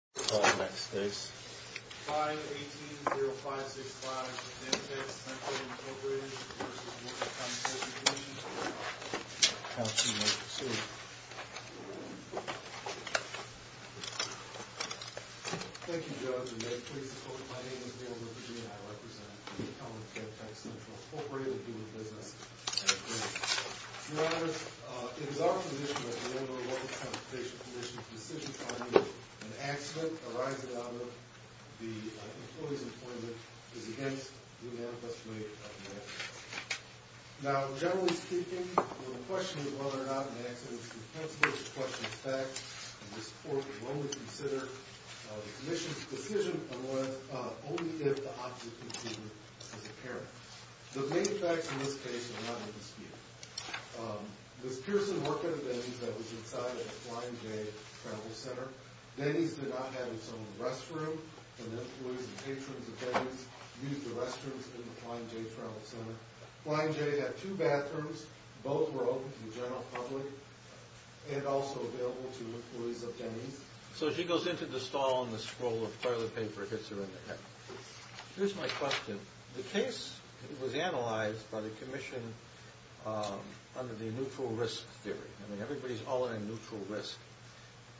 5-18-0-5-6-5 Den-Tex Central, Inc v. The Workers' Compensation Commission Thank you, Judge, and may it please the court that my name is Bill Lepidini. I represent the incumbent, Den-Tex Central, Inc. human business. Your Honors, it is our position as a member of the Workers' Compensation Commission that the decision finding an accident arising out of the employee's employment is against the manifest way of an accident. Now, generally speaking, the question of whether or not an accident is presentable is a question of fact, and this court will only consider the Commission's decision on whether, only if, the opposite conceded is apparent. The main facts in this case are not to be disputed. This person working at Denny's that was inside of the Flying J Travel Center. Denny's did not have its own restroom, and employees and patrons of Denny's used the restrooms in the Flying J Travel Center. Flying J had two bathrooms. Both were open to the general public and also available to employees of Denny's. So she goes into the stall and the scroll of toilet paper hits her in the head. Here's my question. The case was analyzed by the Commission under the neutral risk theory. I mean, everybody's all in on neutral risk.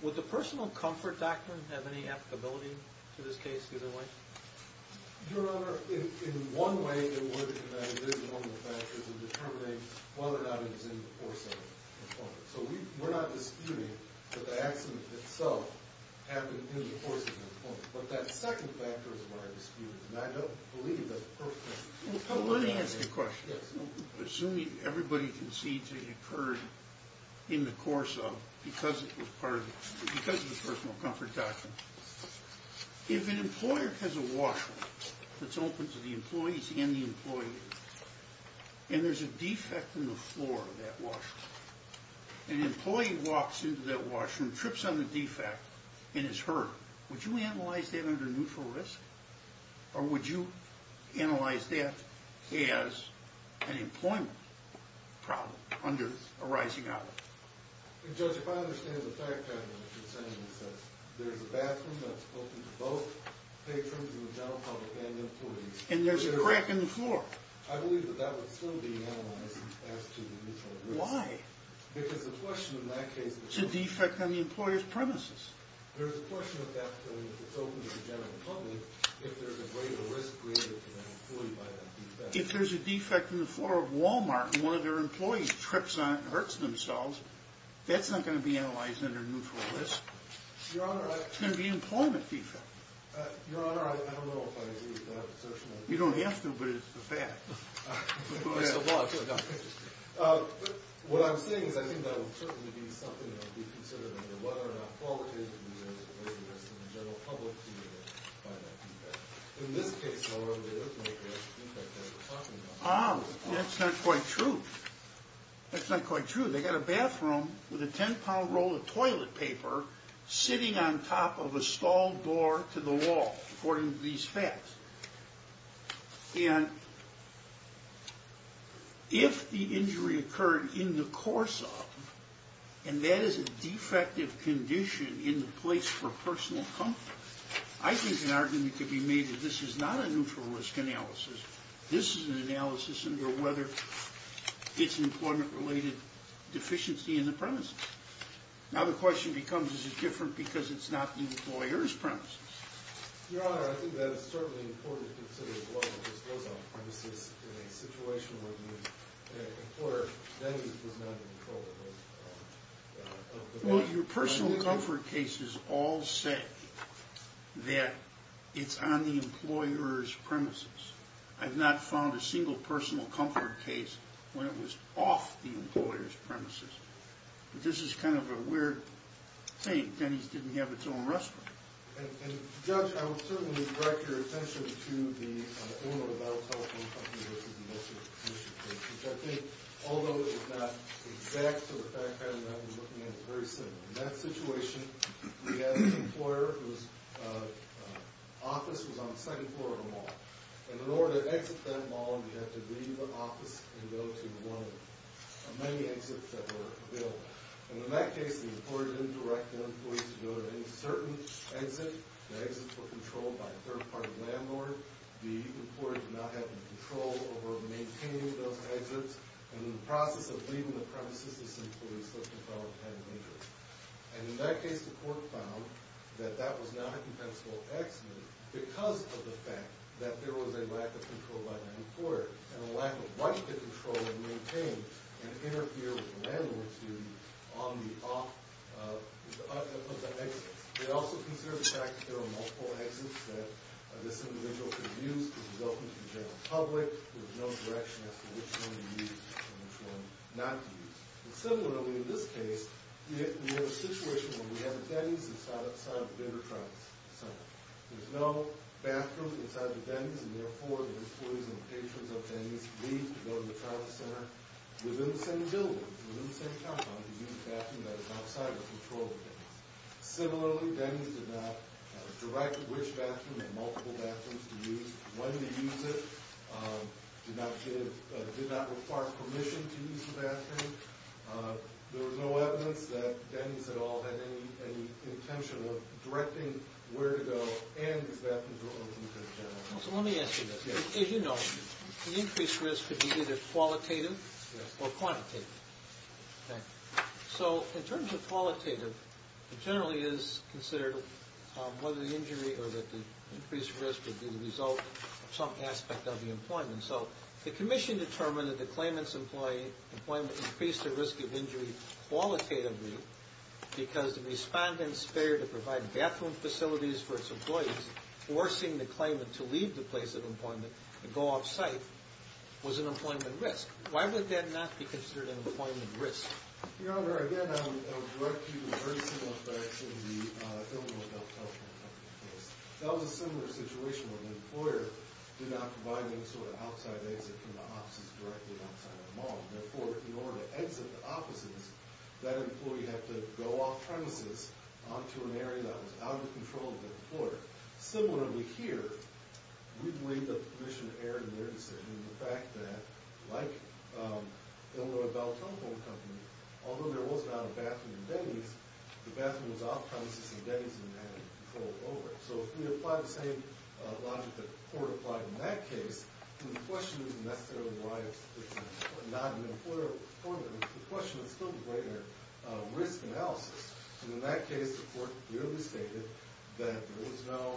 Would the personal comfort doctrine have any applicability to this case either way? Your Honor, in one way it would, and that is one of the factors in determining whether or not it is in the course of employment. So we're not disputing that the accident itself happened in the course of employment. But that second factor is what I'm disputing, and I don't believe that the person... Let me ask you a question. Assuming everybody concedes it occurred in the course of, because it was part of, because of the personal comfort doctrine. If an employer has a washroom that's open to the employees and the employees, and there's a defect in the floor of that washroom, an employee walks into that washroom, trips on the defect, and is hurt, would you analyze that under neutral risk? Or would you analyze that as an employment problem under a rising outlet? Judge, if I understand the fact that you're saying that there's a bathroom that's open to both patrons and the general public and employees... And there's a crack in the floor. I believe that that would still be analyzed as to the neutral risk. Why? Because the question in that case... It's a defect on the employer's premises. There's a question of that if it's open to the general public, if there's a greater risk created to the employee by that defect. If there's a defect in the floor of Walmart and one of their employees trips on it and hurts themselves, that's not going to be analyzed under neutral risk. Your Honor, I... It's going to be an employment defect. Your Honor, I don't know if I agree with that assertion. You don't have to, but it's a fact. It's the law. It's the doctrine. What I'm saying is I think that would certainly be something that would be considered under whether or not qualitatively there's a risk in the general public to find that defect. In this case, however, they look like they're talking about... That's not quite true. That's not quite true. They got a bathroom with a 10-pound roll of toilet paper sitting on top of a stalled door to the wall, according to these facts. And if the injury occurred in the course of... And that is a defective condition in the place for personal comfort. I think an argument could be made that this is not a neutral risk analysis. This is an analysis under whether it's an employment-related deficiency in the premises. Now the question becomes, is it different because it's not the employer's premises? Your Honor, I think that it's certainly important to consider as well if this goes on premises in a situation where the employer then is not in control of the... Well, your personal comfort cases all say that it's on the employer's premises. I've not found a single personal comfort case when it was off the employer's premises. This is kind of a weird thing. Denny's didn't have its own restaurant. And, Judge, I would certainly direct your attention to the owner of that telephone company versus the military commission case, which I think, although it is not exact to the fact that I'm looking at, it's very similar. In that situation, we had an employer whose office was on the second floor of a mall. And in order to exit that mall, we had to leave the office and go to one of many exits that were available. And in that case, the employer didn't direct the employees to go to any certain exit. The exits were controlled by a third-party landlord. The employer did not have any control over maintaining those exits. And in the process of leaving the premises, this employee slipped and fell and died of injury. And in that case, the court found that that was not a compensable accident because of the fact that there was a lack of control by the employer and a lack of right to control and maintain and interfere with the landlord's duty on the off of the exits. They also consider the fact that there are multiple exits that this individual could use to welcome to the general public with no direction as to which one to use and which one not to use. Similarly, in this case, we have a situation where we have a dentist inside or outside of the Denver Tribal Center. There's no bathroom inside the dentist, and therefore, the employees and patrons of the dentist leave to go to the Tribal Center within the same building, within the same compound, to use a bathroom that is outside of control of the dentist. Similarly, the dentist did not direct which bathroom and multiple bathrooms to use, when to use it, did not require permission to use the bathroom. There was no evidence that the dentist at all had any intention of directing where to go and his bathroom to open to the general public. So let me ask you this. As you know, the increased risk could be either qualitative or quantitative. So in terms of qualitative, it generally is considered whether the injury or the increased risk would be the result of some aspect of the employment. So the commission determined that the claimant's employment increased the risk of injury qualitatively because the respondent's failure to provide bathroom facilities for its employees, forcing the claimant to leave the place of employment and go off-site, was an employment risk. Why would that not be considered an employment risk? Your Honor, again, I would direct you to the very similar facts in the Illinois Bell Telephone Company case. That was a similar situation where the employer did not provide any sort of outside exit from the offices directly outside of the mall. Therefore, in order to exit the offices, that employee had to go off-premises onto an area that was out of control of the employer. Similarly here, we believe that the commission erred in their decision in the fact that, like Illinois Bell Telephone Company, although there was not a bathroom in Denny's, the bathroom was off-premises and Denny's didn't have control over it. So if we apply the same logic that the court applied in that case, then the question isn't necessarily why it's not an employer problem. The question is still the greater risk analysis. And in that case, the court clearly stated that there was no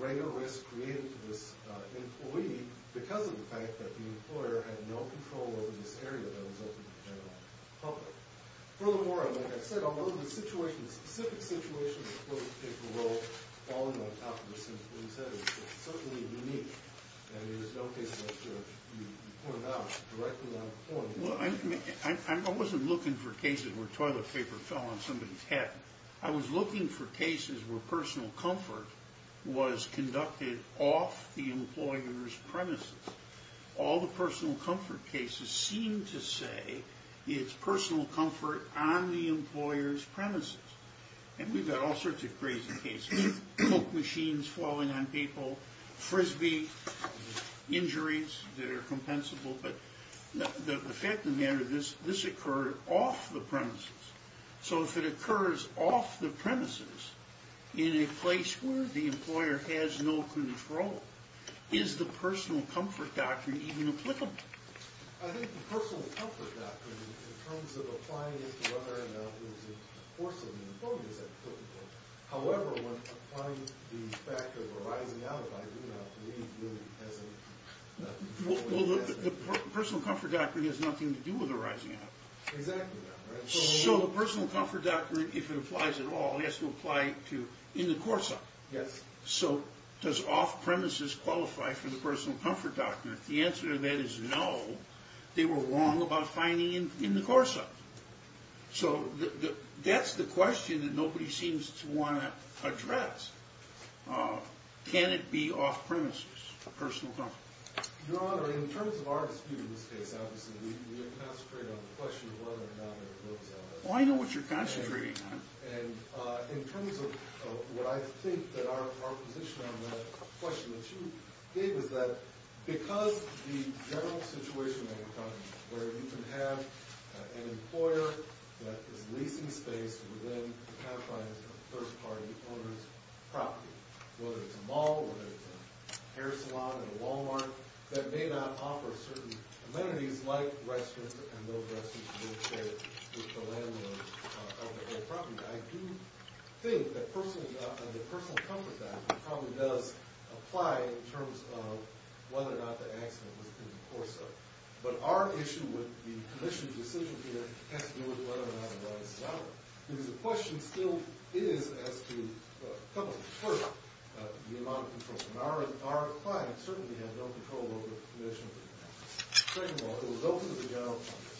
greater risk created to this employee because of the fact that the employer had no control over this area that was open to the general public. Furthermore, like I said, although the situation, the specific situation of the toilet paper roll falling on top of this employee's head is certainly unique. And there is no case that you pointed out directly on the court. Well, I wasn't looking for cases where toilet paper fell on somebody's head. I was looking for cases where personal comfort was conducted off the employer's premises. All the personal comfort cases seem to say it's personal comfort on the employer's premises. And we've got all sorts of crazy cases. Coke machines falling on people, Frisbee injuries that are compensable. But the fact of the matter is this occurred off the premises. So if it occurs off the premises in a place where the employer has no control, is the personal comfort doctrine even applicable? I think the personal comfort doctrine, in terms of applying it to whether or not it was a force of the employer, is applicable. However, when applying the fact of a rising out, if I do have to read, really has nothing to do with it. Well, the personal comfort doctrine has nothing to do with a rising out. So the personal comfort doctrine, if it applies at all, has to apply in the course of it. So does off-premises qualify for the personal comfort doctrine? The answer to that is no. They were wrong about finding it in the course of it. So that's the question that nobody seems to want to address. Can it be off-premises, personal comfort? Your Honor, in terms of our dispute in this case, obviously, we have concentrated on the question of whether or not there was an off-premise. Well, I know what you're concentrating on. And in terms of what I think that our position on that question that you gave is that because the general situation that we're talking about, where you can have an employer that is leasing space within the confines of a first-party owner's property, whether it's a mall or whether it's a hair salon or a Wal-Mart, that may not offer certain amenities like restrooms and those restrooms being shared with the landlord of the property. I do think that the personal comfort doctrine probably does apply in terms of whether or not the accident was in the course of it. But our issue with the commission's decision here has to do with whether or not it was. Because the question still is as to the amount of control. And our client certainly had no control over the commission. Second of all, it was open to the general public.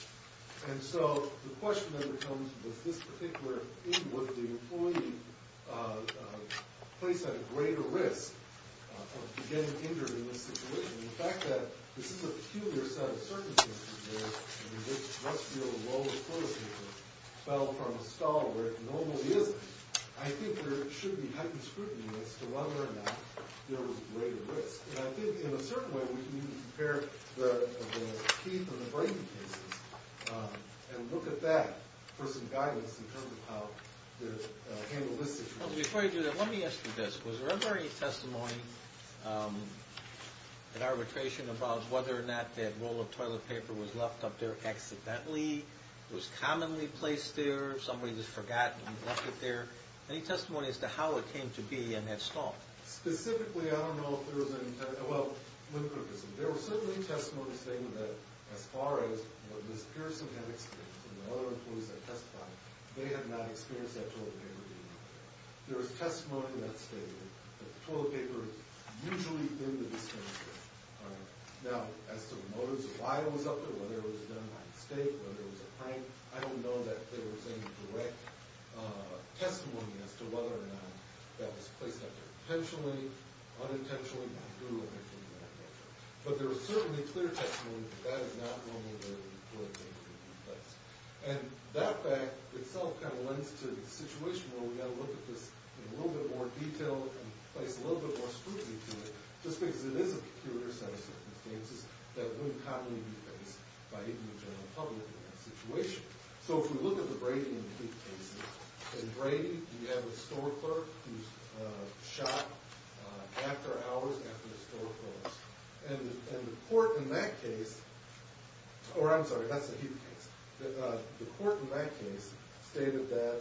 And so the question that comes with this particular thing, whether the employee placed at a greater risk of getting injured in this situation. And the fact that this is a peculiar set of circumstances in which Westfield, well before it fell from a stall where it normally isn't, I think there should be heightened scrutiny as to whether or not there was greater risk. And I think in a certain way, we need to compare the Keith and the Brady cases and look at that for some guidance in terms of how to handle this situation. Before I do that, let me ask you this. Was there ever any testimony in arbitration about whether or not that roll of toilet paper was left up there accidentally? It was commonly placed there. Somebody just forgot and left it there. Any testimony as to how it came to be in that stall? Specifically, I don't know if there was any, well, let me put it this way. There was certainly testimony saying that as far as what Ms. Pearson had experienced and the other employees that testified, they had not experienced that roll of toilet paper being left there. There was testimony that stated that the roll of toilet paper is usually in the dispenser. Now, as to the motives of why it was up there, whether it was done by mistake, whether it was a prank, I don't know that there was any direct testimony as to whether or not that was placed there intentionally, unintentionally, not due to anything that I mentioned. But there was certainly clear testimony that that is not normally where the roll of toilet paper would be placed. And that fact itself kind of lends to the situation where we've got to look at this in a little bit more detail and place a little bit more scrutiny to it, just because it is a peculiar set of circumstances that wouldn't commonly be faced by even the general public in that situation. So if we look at the Brady and Leak cases, in Brady, we have a store clerk who's shot after hours after the store closed. And the court in that case – or, I'm sorry, that's the Heath case. The court in that case stated that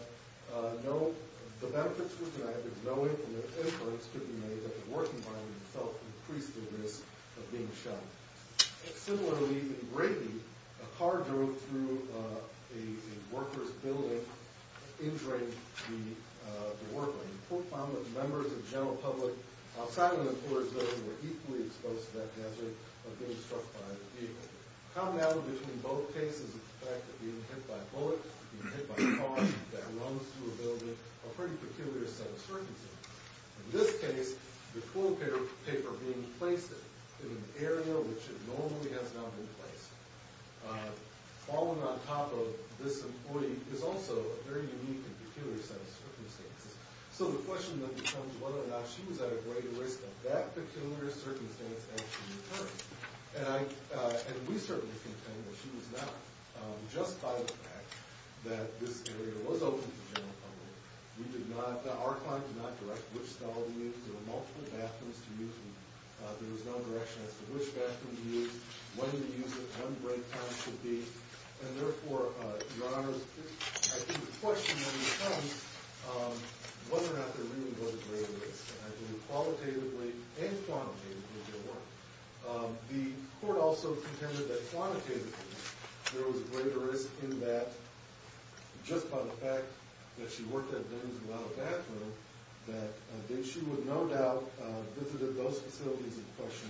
no – the benefits were denied, that no influence could be made, that the working environment itself increased the risk of being shot. Similarly, in Brady, a car drove through a worker's building, injuring the worker. And the court found that members of the general public outside of the employer's building were equally exposed to that hazard of being struck by the vehicle. A commonality between both cases is the fact that being hit by a bullet, being hit by a car that runs through a building, a pretty peculiar set of circumstances. In this case, the toilet paper being placed in an area which it normally has not been placed, falling on top of this employee is also a very unique and peculiar set of circumstances. So the question then becomes whether or not she was at a greater risk of that peculiar circumstance as she returned. And I – and we certainly contend that she was not. Just by the fact that this area was open to the general public, we did not – our client did not direct which stall to use. There were multiple bathrooms to use, and there was no direction as to which bathroom to use, when to use it, when break time should be. And therefore, Your Honors, I think the question then becomes whether or not there really was a greater risk. And I think qualitatively and quantitatively there were. The court also contended that quantitatively there was a greater risk in that, just by the fact that she worked at a business without a bathroom, that she would no doubt have visited those facilities in question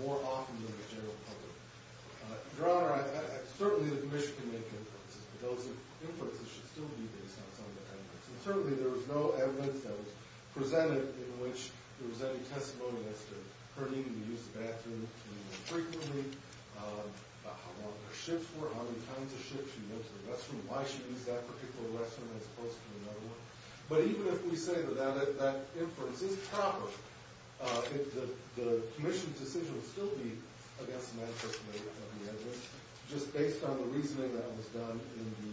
more often than the general public. Your Honor, certainly the Commission can make inferences, but those inferences should still be based on some of the evidence. And certainly there was no evidence that was presented in which there was any testimony as to her needing to use the bathroom frequently, how long her shifts were, how many times a shift she went to the restroom, and why she used that particular restroom as opposed to another one. But even if we say that that inference is proper, the Commission's decision would still be against the manifesto of the evidence, just based on the reasoning that was done in the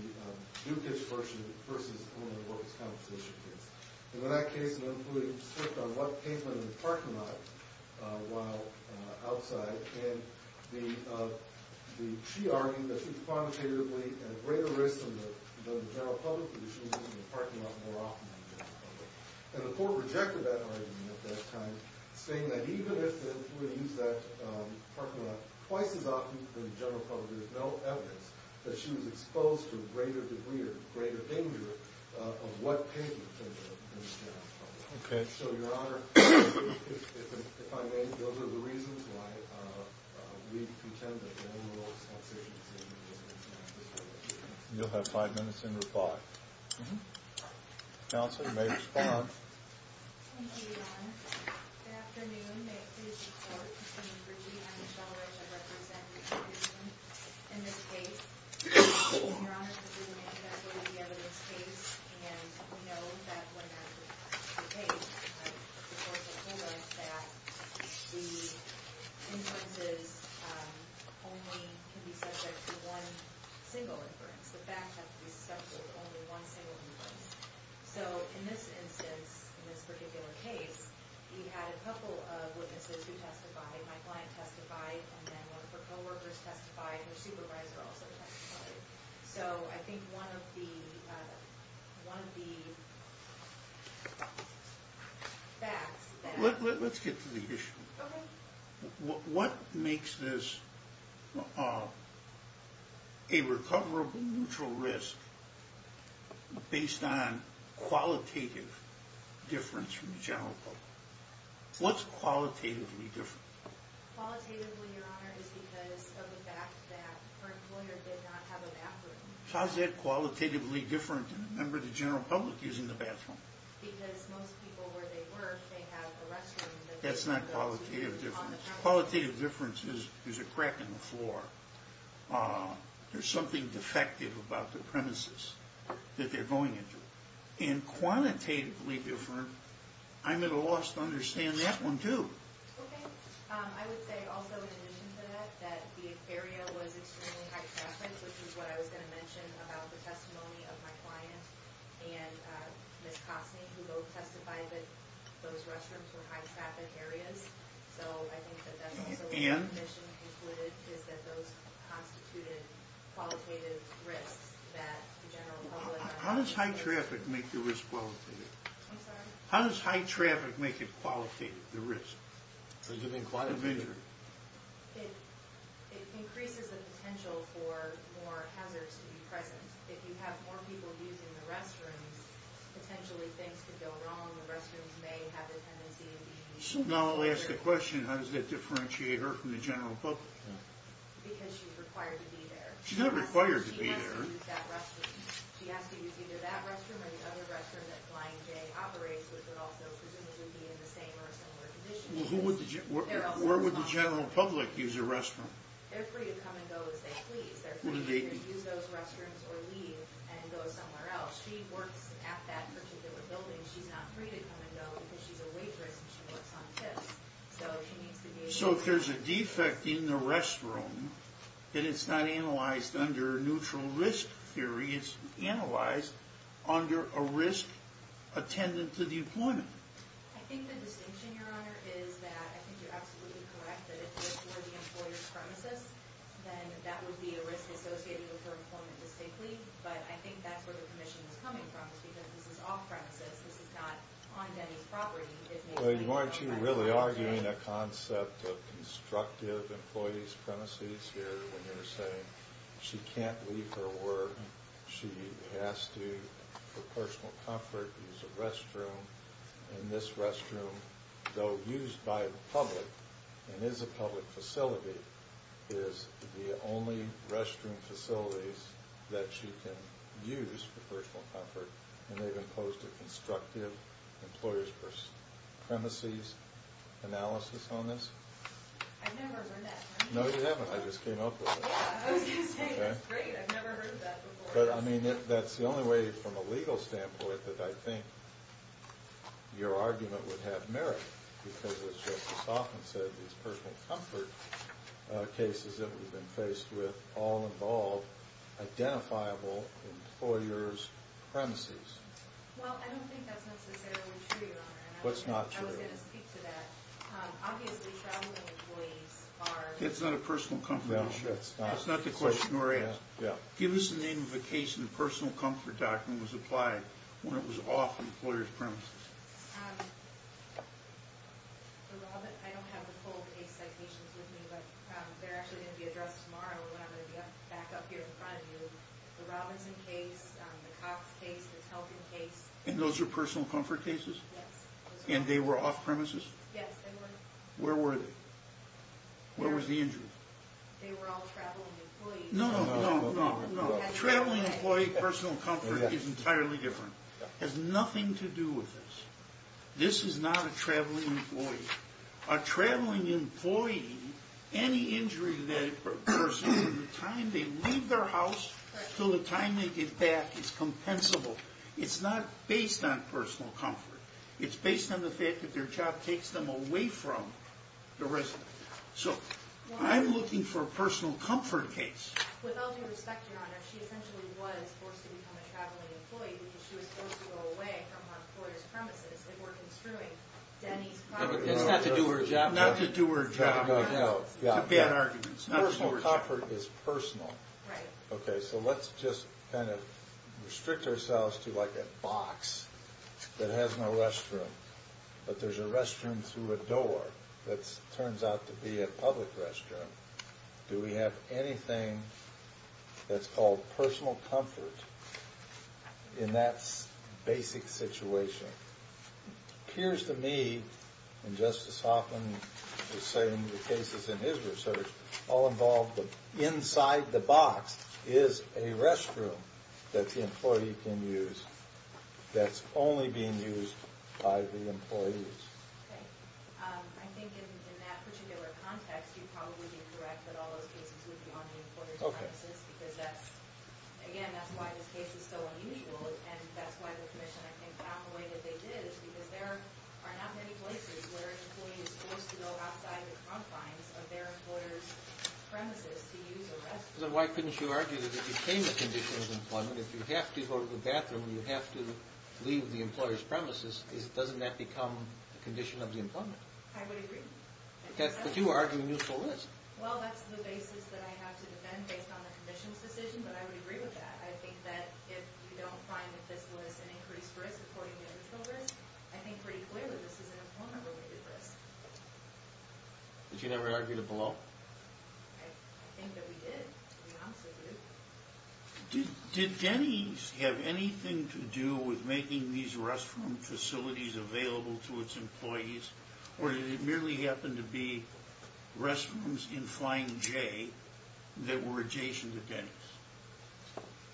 new-kid's version versus only the work-as-compensation case. And in that case, including the shift on what pavement in the parking lot while outside, she argued that she was quantitatively at greater risk than the general public, because she was in the parking lot more often than the general public. And the court rejected that argument at that time, saying that even if she were to use that parking lot twice as often than the general public, there's no evidence that she was exposed to a greater degree or greater danger of what pavement than the general public. Okay. So, Your Honor, if I may, those are the reasons why we pretend that no one else has anything to say. You'll have five minutes in reply. Counselor, you may respond. Thank you, Your Honor. Good afternoon. May it please the Court. My name is Brigitte. I'm the fellowship representative in this case. Your Honor, this is an interest-related evidence case, and we know that when that's the case, the court has told us that the inferences only can be subject to one single inference. The facts have to be subject to only one single inference. So in this instance, in this particular case, we had a couple of witnesses who testified. My client testified, and then one of her co-workers testified. And her supervisor also testified. So I think one of the facts that— Let's get to the issue. Okay. What makes this a recoverable neutral risk based on qualitative difference from the general public? What's qualitatively different? Qualitatively, Your Honor, is because of the fact that her employer did not have a bathroom. How's that qualitatively different than a member of the general public using the bathroom? Because most people, where they work, they have a restroom that they can go to on the counter. That's not qualitative difference. Qualitative difference is there's a crack in the floor. There's something defective about the premises that they're going into. And quantitatively different, I'm at a loss to understand that one, too. Okay. I would say also, in addition to that, that the area was extremely high-traffic, which is what I was going to mention about the testimony of my client and Ms. Costney, who both testified that those restrooms were high-traffic areas. So I think that that's also what the commission concluded, is that those constituted qualitative risks that the general public— How does high traffic make the risk qualitative? I'm sorry? How does high traffic make it qualitative, the risk? Does it make it qualitative? It increases the potential for more hazards to be present. If you have more people using the restrooms, potentially things could go wrong. The restrooms may have the tendency of being— So now I'll ask the question, how does that differentiate her from the general public? Because she's required to be there. She's not required to be there. She has to use that restroom. She has to use either that restroom or the other restroom that Flying J operates, which would also presumably be in the same or similar conditions. Where would the general public use a restroom? They're free to come and go as they please. They're free to use those restrooms or leave and go somewhere else. She works at that particular building. She's not free to come and go because she's a waitress and she works on tips. So she needs to be able— So if there's a defect in the restroom, then it's not analyzed under neutral risk theory. It's analyzed under a risk attendant to the employment. I think the distinction, Your Honor, is that I think you're absolutely correct that if this were the employer's premises, then that would be a risk associated with her employment distinctly. But I think that's where the commission is coming from is because this is off-premises. This is not on Denny's property. Well, aren't you really arguing a concept of constructive employee's premises here when you're saying she can't leave her work. She has to, for personal comfort, use a restroom. And this restroom, though used by the public and is a public facility, is the only restroom facilities that she can use for personal comfort. And they've imposed a constructive employer's premises analysis on this? I've never heard that. No, you haven't. I just came up with it. Yeah, I was going to say, that's great. I've never heard that before. But, I mean, that's the only way, from a legal standpoint, that I think your argument would have merit because, as Justice Hoffman said, these personal comfort cases that we've been faced with all involve identifiable employer's premises. Well, I don't think that's necessarily true, Your Honor. What's not true? I was going to speak to that. Obviously, traveling employees are... It's not a personal comfort issue. No, it's not. It's not the question or answer. Yeah. Give us the name of the case in the personal comfort document was applied when it was off the employer's premises. I don't have the full case citations with me, but they're actually going to be addressed tomorrow when I'm going to be back up here in front of you. The Robinson case, the Cox case, the Telkin case... And those are personal comfort cases? Yes. And they were off premises? Yes, they were. Where were they? Where was the injury? They were all traveling employees. No, no, no, no, no. Traveling employee personal comfort is entirely different. It has nothing to do with this. This is not a traveling employee. A traveling employee, any injury to that person from the time they leave their house until the time they get back is compensable. It's not based on personal comfort. It's based on the fact that their job takes them away from the resident. So, I'm looking for a personal comfort case. With all due respect, Your Honor, she essentially was forced to become a traveling employee because she was supposed to go away from an employer's premises. They were construing Denny's property. It's not to do her job. Not to do her job. No, no, no. It's a bad argument. Personal comfort is personal. Right. Okay, so let's just kind of restrict ourselves to like a box that has no restroom. But there's a restroom through a door that turns out to be a public restroom. Do we have anything that's called personal comfort in that basic situation? It appears to me, and Justice Hoffman was saying in the cases in his research, all involved inside the box is a restroom that the employee can use that's only being used by the employees. Okay. I think in that particular context, you'd probably be correct that all those cases would be on the employer's premises. Okay. Again, that's why this case is so unusual, and that's why the commission, I think, found the way that they did is because there are not many places where an employee is forced to go outside the confines of their employer's premises to use a restroom. Then why couldn't you argue that it became a condition of employment? If you have to go to the bathroom and you have to leave the employer's premises, doesn't that become a condition of the employment? I would agree. But you argue and you solicit. Well, that's the basis that I have to defend based on the commission's decision, but I would agree with that. I think that if you don't find that this was an increased risk according to the control risk, I think pretty clearly this is an employment-related risk. But you never argued it below? I think that we did. We honestly did. Did Denny's have anything to do with making these restroom facilities available to its employees, or did it merely happen to be restrooms in Flying J that were adjacent to Denny's?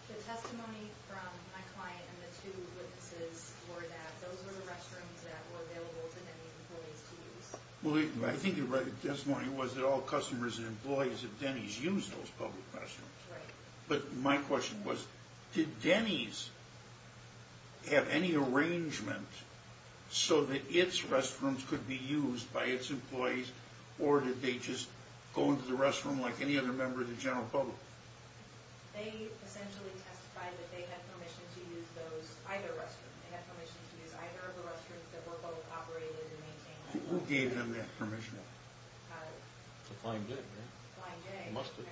The testimony from my client and the two witnesses were that those were the restrooms that were available to Denny's employees to use. Well, I think your testimony was that all customers and employees at Denny's use those public restrooms. But my question was, did Denny's have any arrangement so that its restrooms could be used by its employees, or did they just go into the restroom like any other member of the general public? They essentially testified that they had permission to use either restroom. They had permission to use either of the restrooms that were both operated and maintained. Who gave them that permission? Flying J, right? Flying J, I presume.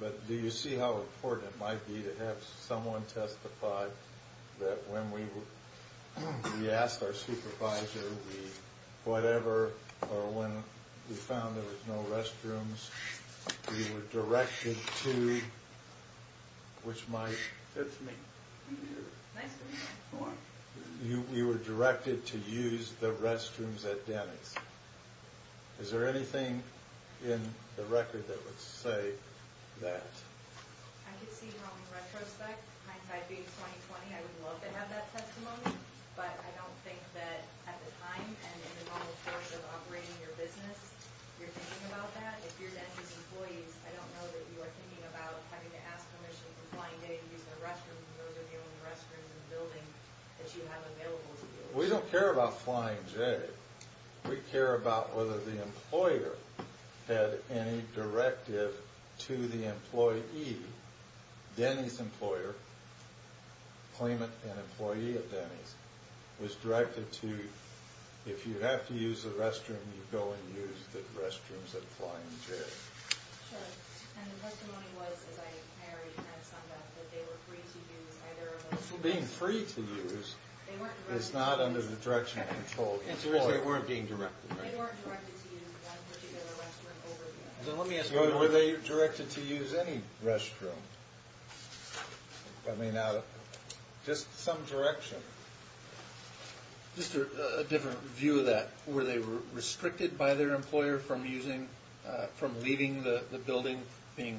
But do you see how important it might be to have someone testify that when we asked our supervisor, whatever, or when we found there was no restrooms, we were directed to, which might... That's me. Nice to meet you. You were directed to use the restrooms at Denny's. Is there anything in the record that would say that? I could see how in retrospect, hindsight being 20-20, I would love to have that testimony, but I don't think that at the time, and in the normal course of operating your business, you're thinking about that. If you're Denny's employees, I don't know that you are thinking about having to ask permission from Flying J to use their restrooms because those are the only restrooms in the building that you have available to you. We don't care about Flying J. We care about whether the employer had any directive to the employee. Denny's employer, claimant and employee at Denny's, was directed to, if you have to use the restroom, you go and use the restrooms at Flying J. Sure. And the testimony was, as I already kind of summed up, that they were free to use either of those. Being free to use is not under the direction of control. The answer is they weren't being directed, right? They weren't directed to use that particular restroom over there. Were they directed to use any restroom? I mean, just some direction. Just a different view of that. Were they restricted by their employer from leaving the building, being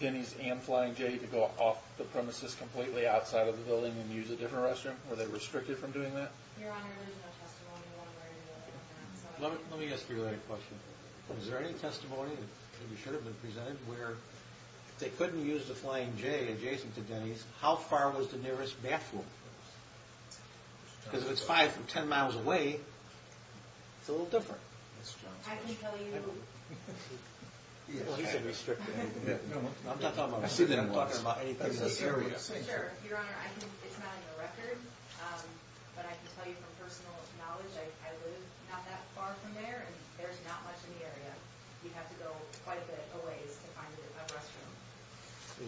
Denny's and Flying J, to go off the premises completely outside of the building and use a different restroom? Were they restricted from doing that? Your Honor, there's no testimony on where they were going to go. Let me ask you a question. Was there any testimony that should have been presented where they couldn't use the Flying J adjacent to Denny's, how far was the nearest bathroom? Because if it's five to ten miles away, it's a little different. I can tell you... Well, he said restricted. I'm not talking about anything in that area. Sure. Your Honor, it's not on the record, but I can tell you from personal knowledge, I live not that far from there, and there's not much in the area. You'd have to go quite a bit of ways to find a restroom.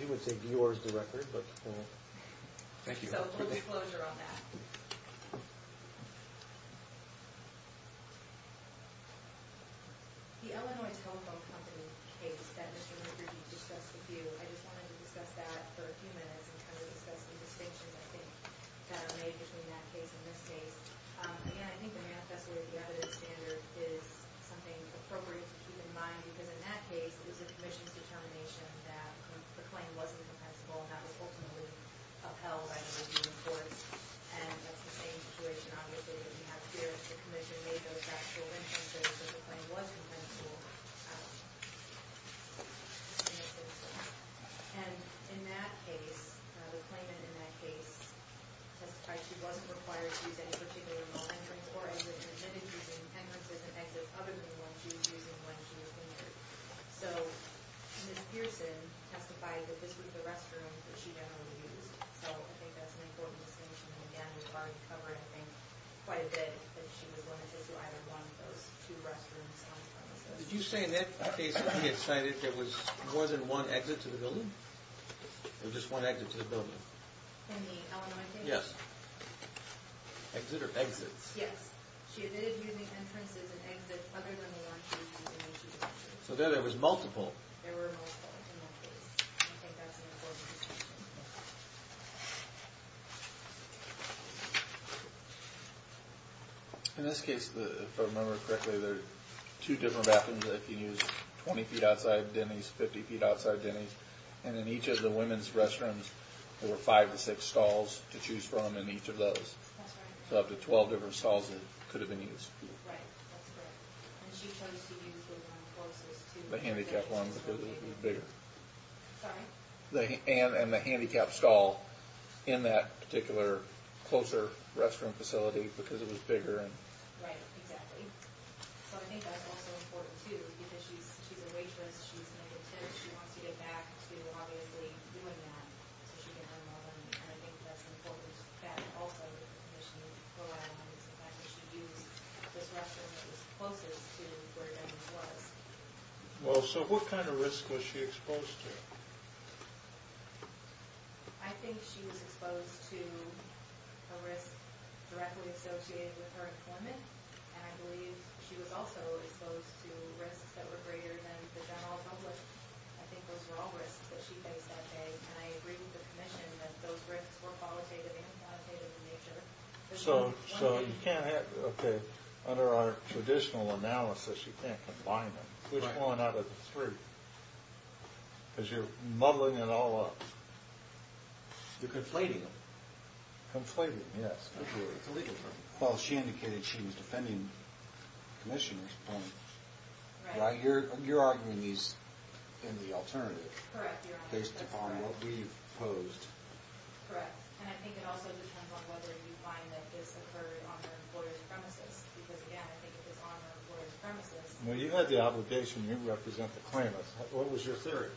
You would say yours is the record, but... Thank you, Your Honor. So, a little disclosure on that. The Illinois Telephone Company case that Mr. McGrady discussed with you, I just wanted to discuss that for a few minutes and kind of discuss the distinctions, I think, that are made between that case and this case. Again, I think the manifesto or the evidence standard is something appropriate to keep in mind, because in that case, it was the commission's determination that the claim wasn't compensable and that was ultimately upheld by the redeeming courts, and that's the same situation, obviously, that we have here. The commission made those factual inferences that the claim was compensable. And in that case, the claimant in that case testified she wasn't required to use any particular entrances or exits and admitted using entrances and exits other than the ones she was using when she was injured. So, Ms. Pearson testified that this was the restroom that she generally used. So, I think that's an important distinction, and again, we've already covered, I think, quite a bit that she was one of those who either wanted those two restrooms on the premises. Did you say in that case that he had cited there was more than one exit to the building? Or just one exit to the building? In the Illinois case? Yes. Exit or exits? Yes. She admitted using entrances and exits other than the ones she was using when she was injured. So, there there was multiple. There were multiple in that case. I think that's an important distinction. In this case, if I remember correctly, there are two different bathrooms that you can use, 20 feet outside Denny's, 50 feet outside Denny's, and in each of the women's restrooms there were five to six stalls to choose from in each of those. So, up to 12 different stalls that could have been used. Right, that's correct. And she chose to use the one closest to... The handicapped one because it was bigger. Sorry? And the handicapped stall in that particular closer restroom facility because it was bigger. Right, exactly. So, I think that's also important too because she's a waitress, she's negative, she wants to get back to obviously doing that so she can earn more money. And I think that's important that also that she go around and sometimes she used this restroom that was closest to where Denny's was. Well, so what kind of risk was she exposed to? I think she was exposed to a risk directly associated with her employment and I believe she was also exposed to risks that were greater than the general public. I think those were all risks that she faced that day and I agreed with the commission that those risks were qualitative and quantitative in nature. So, you can't have... Okay, under our traditional analysis you can't combine them. Right. Which one out of the three? Because you're muddling it all up. You're conflating them. Conflating them, yes. It's illegal. Well, she indicated she was defending the commissioners point. Right. You're arguing these in the alternative. Correct. Based on what we've posed. Correct. And I think it also depends on whether you find that this occurred on her employer's premises. Because, again, I think it was on her employer's premises. Well, you had the obligation to represent the claimants. What was your theory?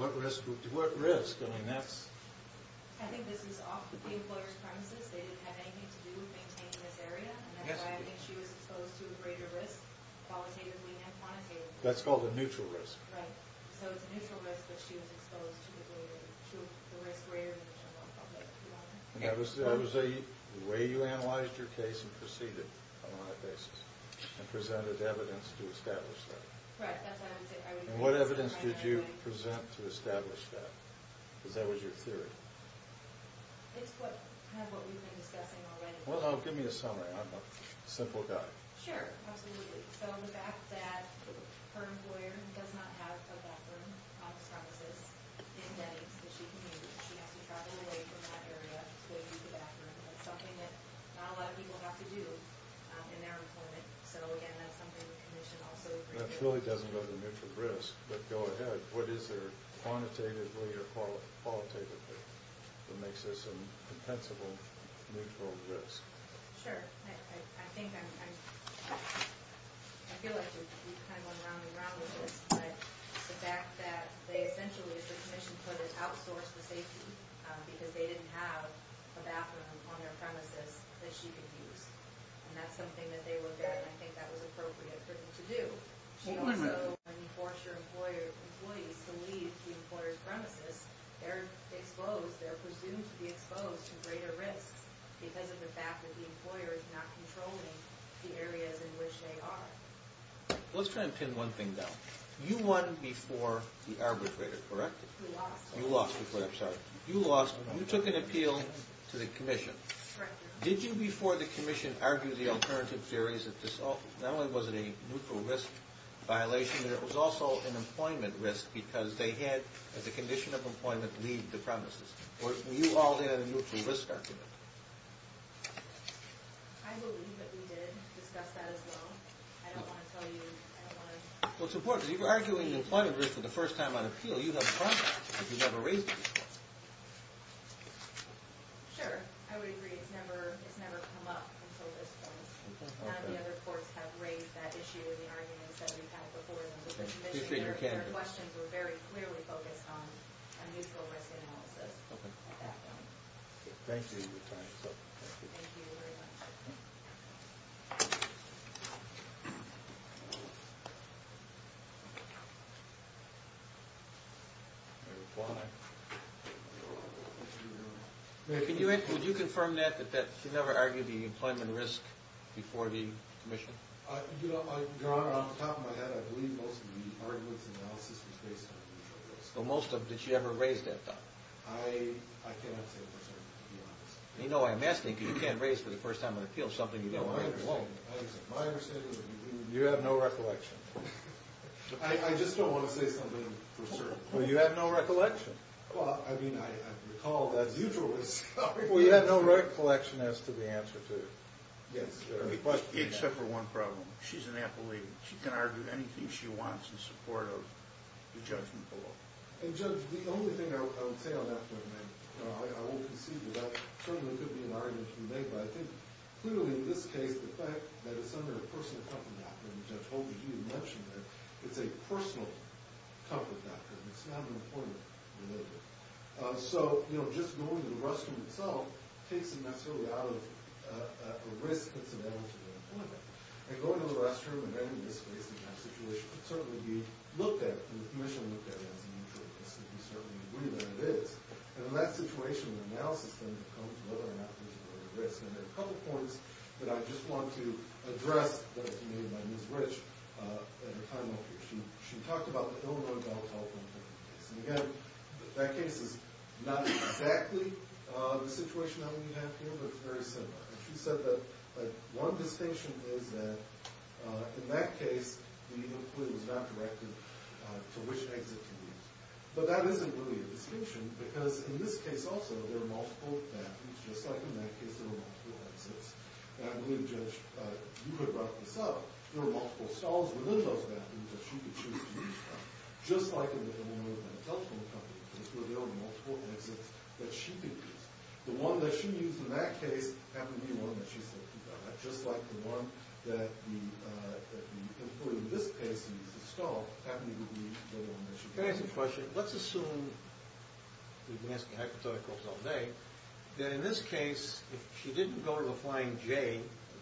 What risk? What risk? I mean, that's... I think this is off the employer's premises. They didn't have anything to do with maintaining this area. That's why I think she was exposed to a greater risk qualitatively and quantitatively. That's called a neutral risk. Right. So, it's a neutral risk but she was exposed to the risk greater than the general public. And that was the way you analyzed your case and proceeded on that basis and presented evidence to establish that. Correct. And what evidence did you present to establish that? Because that was your theory. It's kind of what we've been discussing already. Well, give me a summary. I'm a simple guy. Sure. Absolutely. So, the fact that her employer does not have a bathroom office premises in Denny's that she can use and she has to travel away from that area to go use the bathroom. That's something that not a lot of people have to do in their employment. So, again, that's something the commission also... And that really doesn't go to neutral risk but go ahead. What is there quantitatively or qualitatively that makes this a compensable neutral risk? Sure. I think I'm... I feel like we've kind of gone round and round with this but the fact that they essentially as the commission put it outsourced the safety because they didn't have a bathroom on their premises that she could use. And that's something that they looked at and I think that was appropriate for them to do. She also enforced her employees to leave the employer's premises. They're exposed. They're presumed to be exposed to greater risks because of the fact that the employer is not controlling the areas in which they are. Let's try and pin one thing down. You won before the arbitrator, correct? You lost before... I'm sorry. You lost. You took an appeal to the commission. Did you before the commission argue the alternative theories that not only was it a neutral risk violation but it was also an employment risk because they had, as a condition of employment, leave the premises. Were you all there in the neutral risk argument? I believe that we did discuss that as well. I don't want to tell you... It's important. If you were arguing the employment risk for the first time on appeal, you'd have a problem because you never raised it. Sure. I would agree. It's never come up until this point. None of the other courts have raised that issue or the arguments that we've had before in the commission. Your questions were very clearly focused on a neutral risk analysis. Thank you. Thank you very much. Thank you. Would you confirm that that you never argued the employment risk before the commission? Your Honor, on the top of my head, I believe most of the arguments and analysis was based on the neutral risk. But most of them, did you ever raise that though? I cannot say for certain, to be honest. You know why I'm asking because you can't raise for the first time on appeal something you don't understand. I understand. My understanding is that you didn't... You have no recollection. I just don't want to say something for certain. Well, you have no recollection. Well, I mean, I recall that neutral risk... Well, you have no recollection as to the answer to it. Yes, Your Honor. Except for one problem. She's an apple-eater. She can argue anything she wants in support of the judgment below. And Judge, the only thing I would say on that front, and I won't concede to that, certainly could be an argument you made, but I think clearly in this case, the fact that it's under a personal comfort doctrine, which I told you you mentioned that it's a personal comfort doctrine. It's not an important religion. So, you know, just going to the restroom itself takes it necessarily out of a risk that's available to the employer. And going to the restroom in any risk-facing kind of situation could certainly be looked at and initially looked at as a neutral risk to a certain degree than it is. And in that situation, the analysis then becomes whether or not there's a greater risk. And there are a couple points that I just want to address that have been made by Ms. Rich in her time up here. She talked about the ill-known volatile employment case. And again, that case is not exactly the situation that we have here, but it's very similar. And she said that one distinction is that in that case, the employee was not directed to which exit to leave. But that isn't really a distinction because in this case also, there are multiple exits. Just like in that case, there were multiple exits. And I really judge you guys because you could wrap this up. There were multiple stalls within those bathrooms that she could choose to use. Just like in the employment telephone company case, where there were multiple exits that she could use. The one that she used in that case happened to be the one that she said to die. Just like the one that the employee in this case used to stall happened to be the one that she used. Can I ask a question? Let's assume that in this case, if she didn't go to the bathroom of a flying J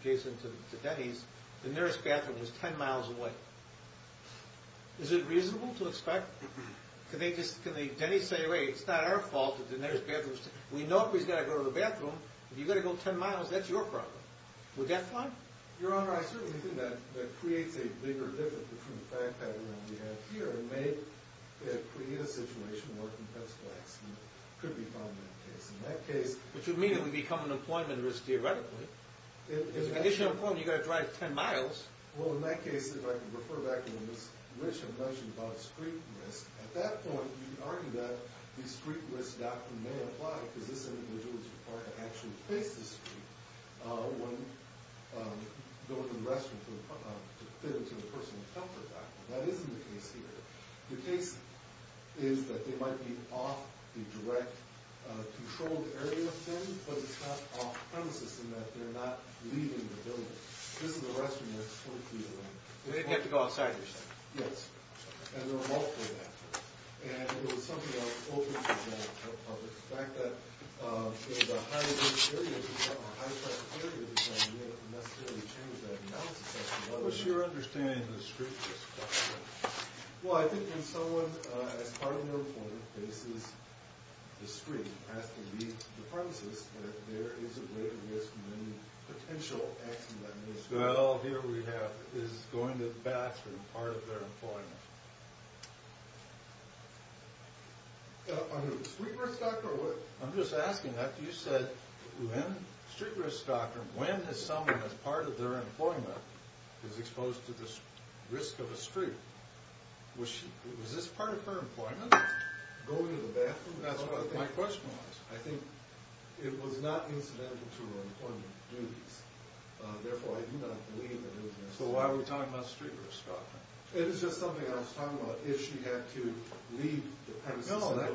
adjacent to Denny's, the nearest bathroom was ten miles away. Is it reasonable to expect that Denny's say, hey, it's not our fault that the nearest bathroom is ten miles away? We know if he's got to go to the bathroom, if you've got to go ten miles, that's your problem. Would that fly? Your Honor, I certainly think that creates a bigger difference between the fact that the room we have here may create a situation where a complex accident could be found in that case. In that case... Which would mean that we'd become an employment risk theoretically. In addition to employment, you've got to drive ten miles. Well, in that case, if I can refer back to what Ms. Rich had mentioned about street risk, at that point, you'd argue that the street risk doctrine may apply because this individual is required to actually face the street when going to the restroom in order to fit into the personal comfort doctrine. That isn't the case here. The case is that they might be off the direct controlled area thing, but it's not off-premises in that they're not leaving the building. This is a restroom that's strictly linked. They didn't have to go outside or something. Yes. And there were multiple factors. And it was something that was open to the public. The fact that the high-risk areas are high-risk areas, you can't necessarily change that analysis. What's your understanding of the street risk doctrine? Well, I think when someone as part of their employment faces the street and has to leave the premises, that there is a greater risk in any potential accident that may occur. Well, here we have is going to the bathroom part of their employment. On the street risk doctrine? I'm just asking that. You said street risk doctrine, when someone as part of their employment is exposed to the risk of a street, was this part of her employment? Going to the bathroom? That's what my question was. I think it was not incidental to her employment duties, therefore I do not believe that it was incidental. So why were we talking about street risk doctrine? It was just something I was talking about. If she had to leave the premises and drive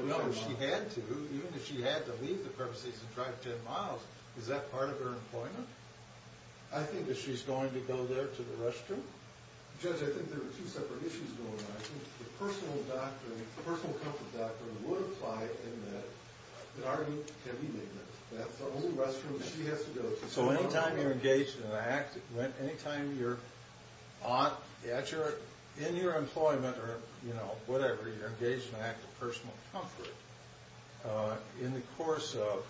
10 miles, is that part of her employment? I think the personal comfort doctrine would apply in that. So any time you're engaged in an act, any time you're in your employment or whatever, you're engaged in an act of personal comfort, in the course of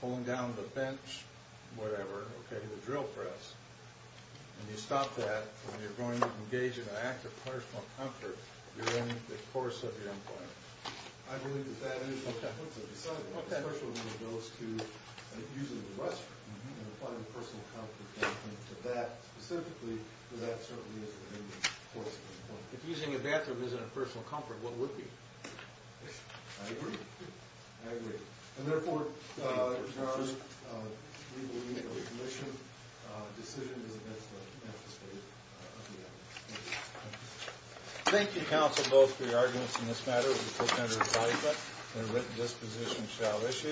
pulling down the bench or whatever and driving car, or the drill press, and you stop that when you're going to engage in an act of personal comfort, you're in of your employment. I believe that that is the principle. If using a bathroom isn't a personal comfort, what would it be? I agree. I agree. And therefore, your legal legal admission decision is against the statute. Thank you counsel both for your arguments in this matter. We put under excitement the written disposition shall issue.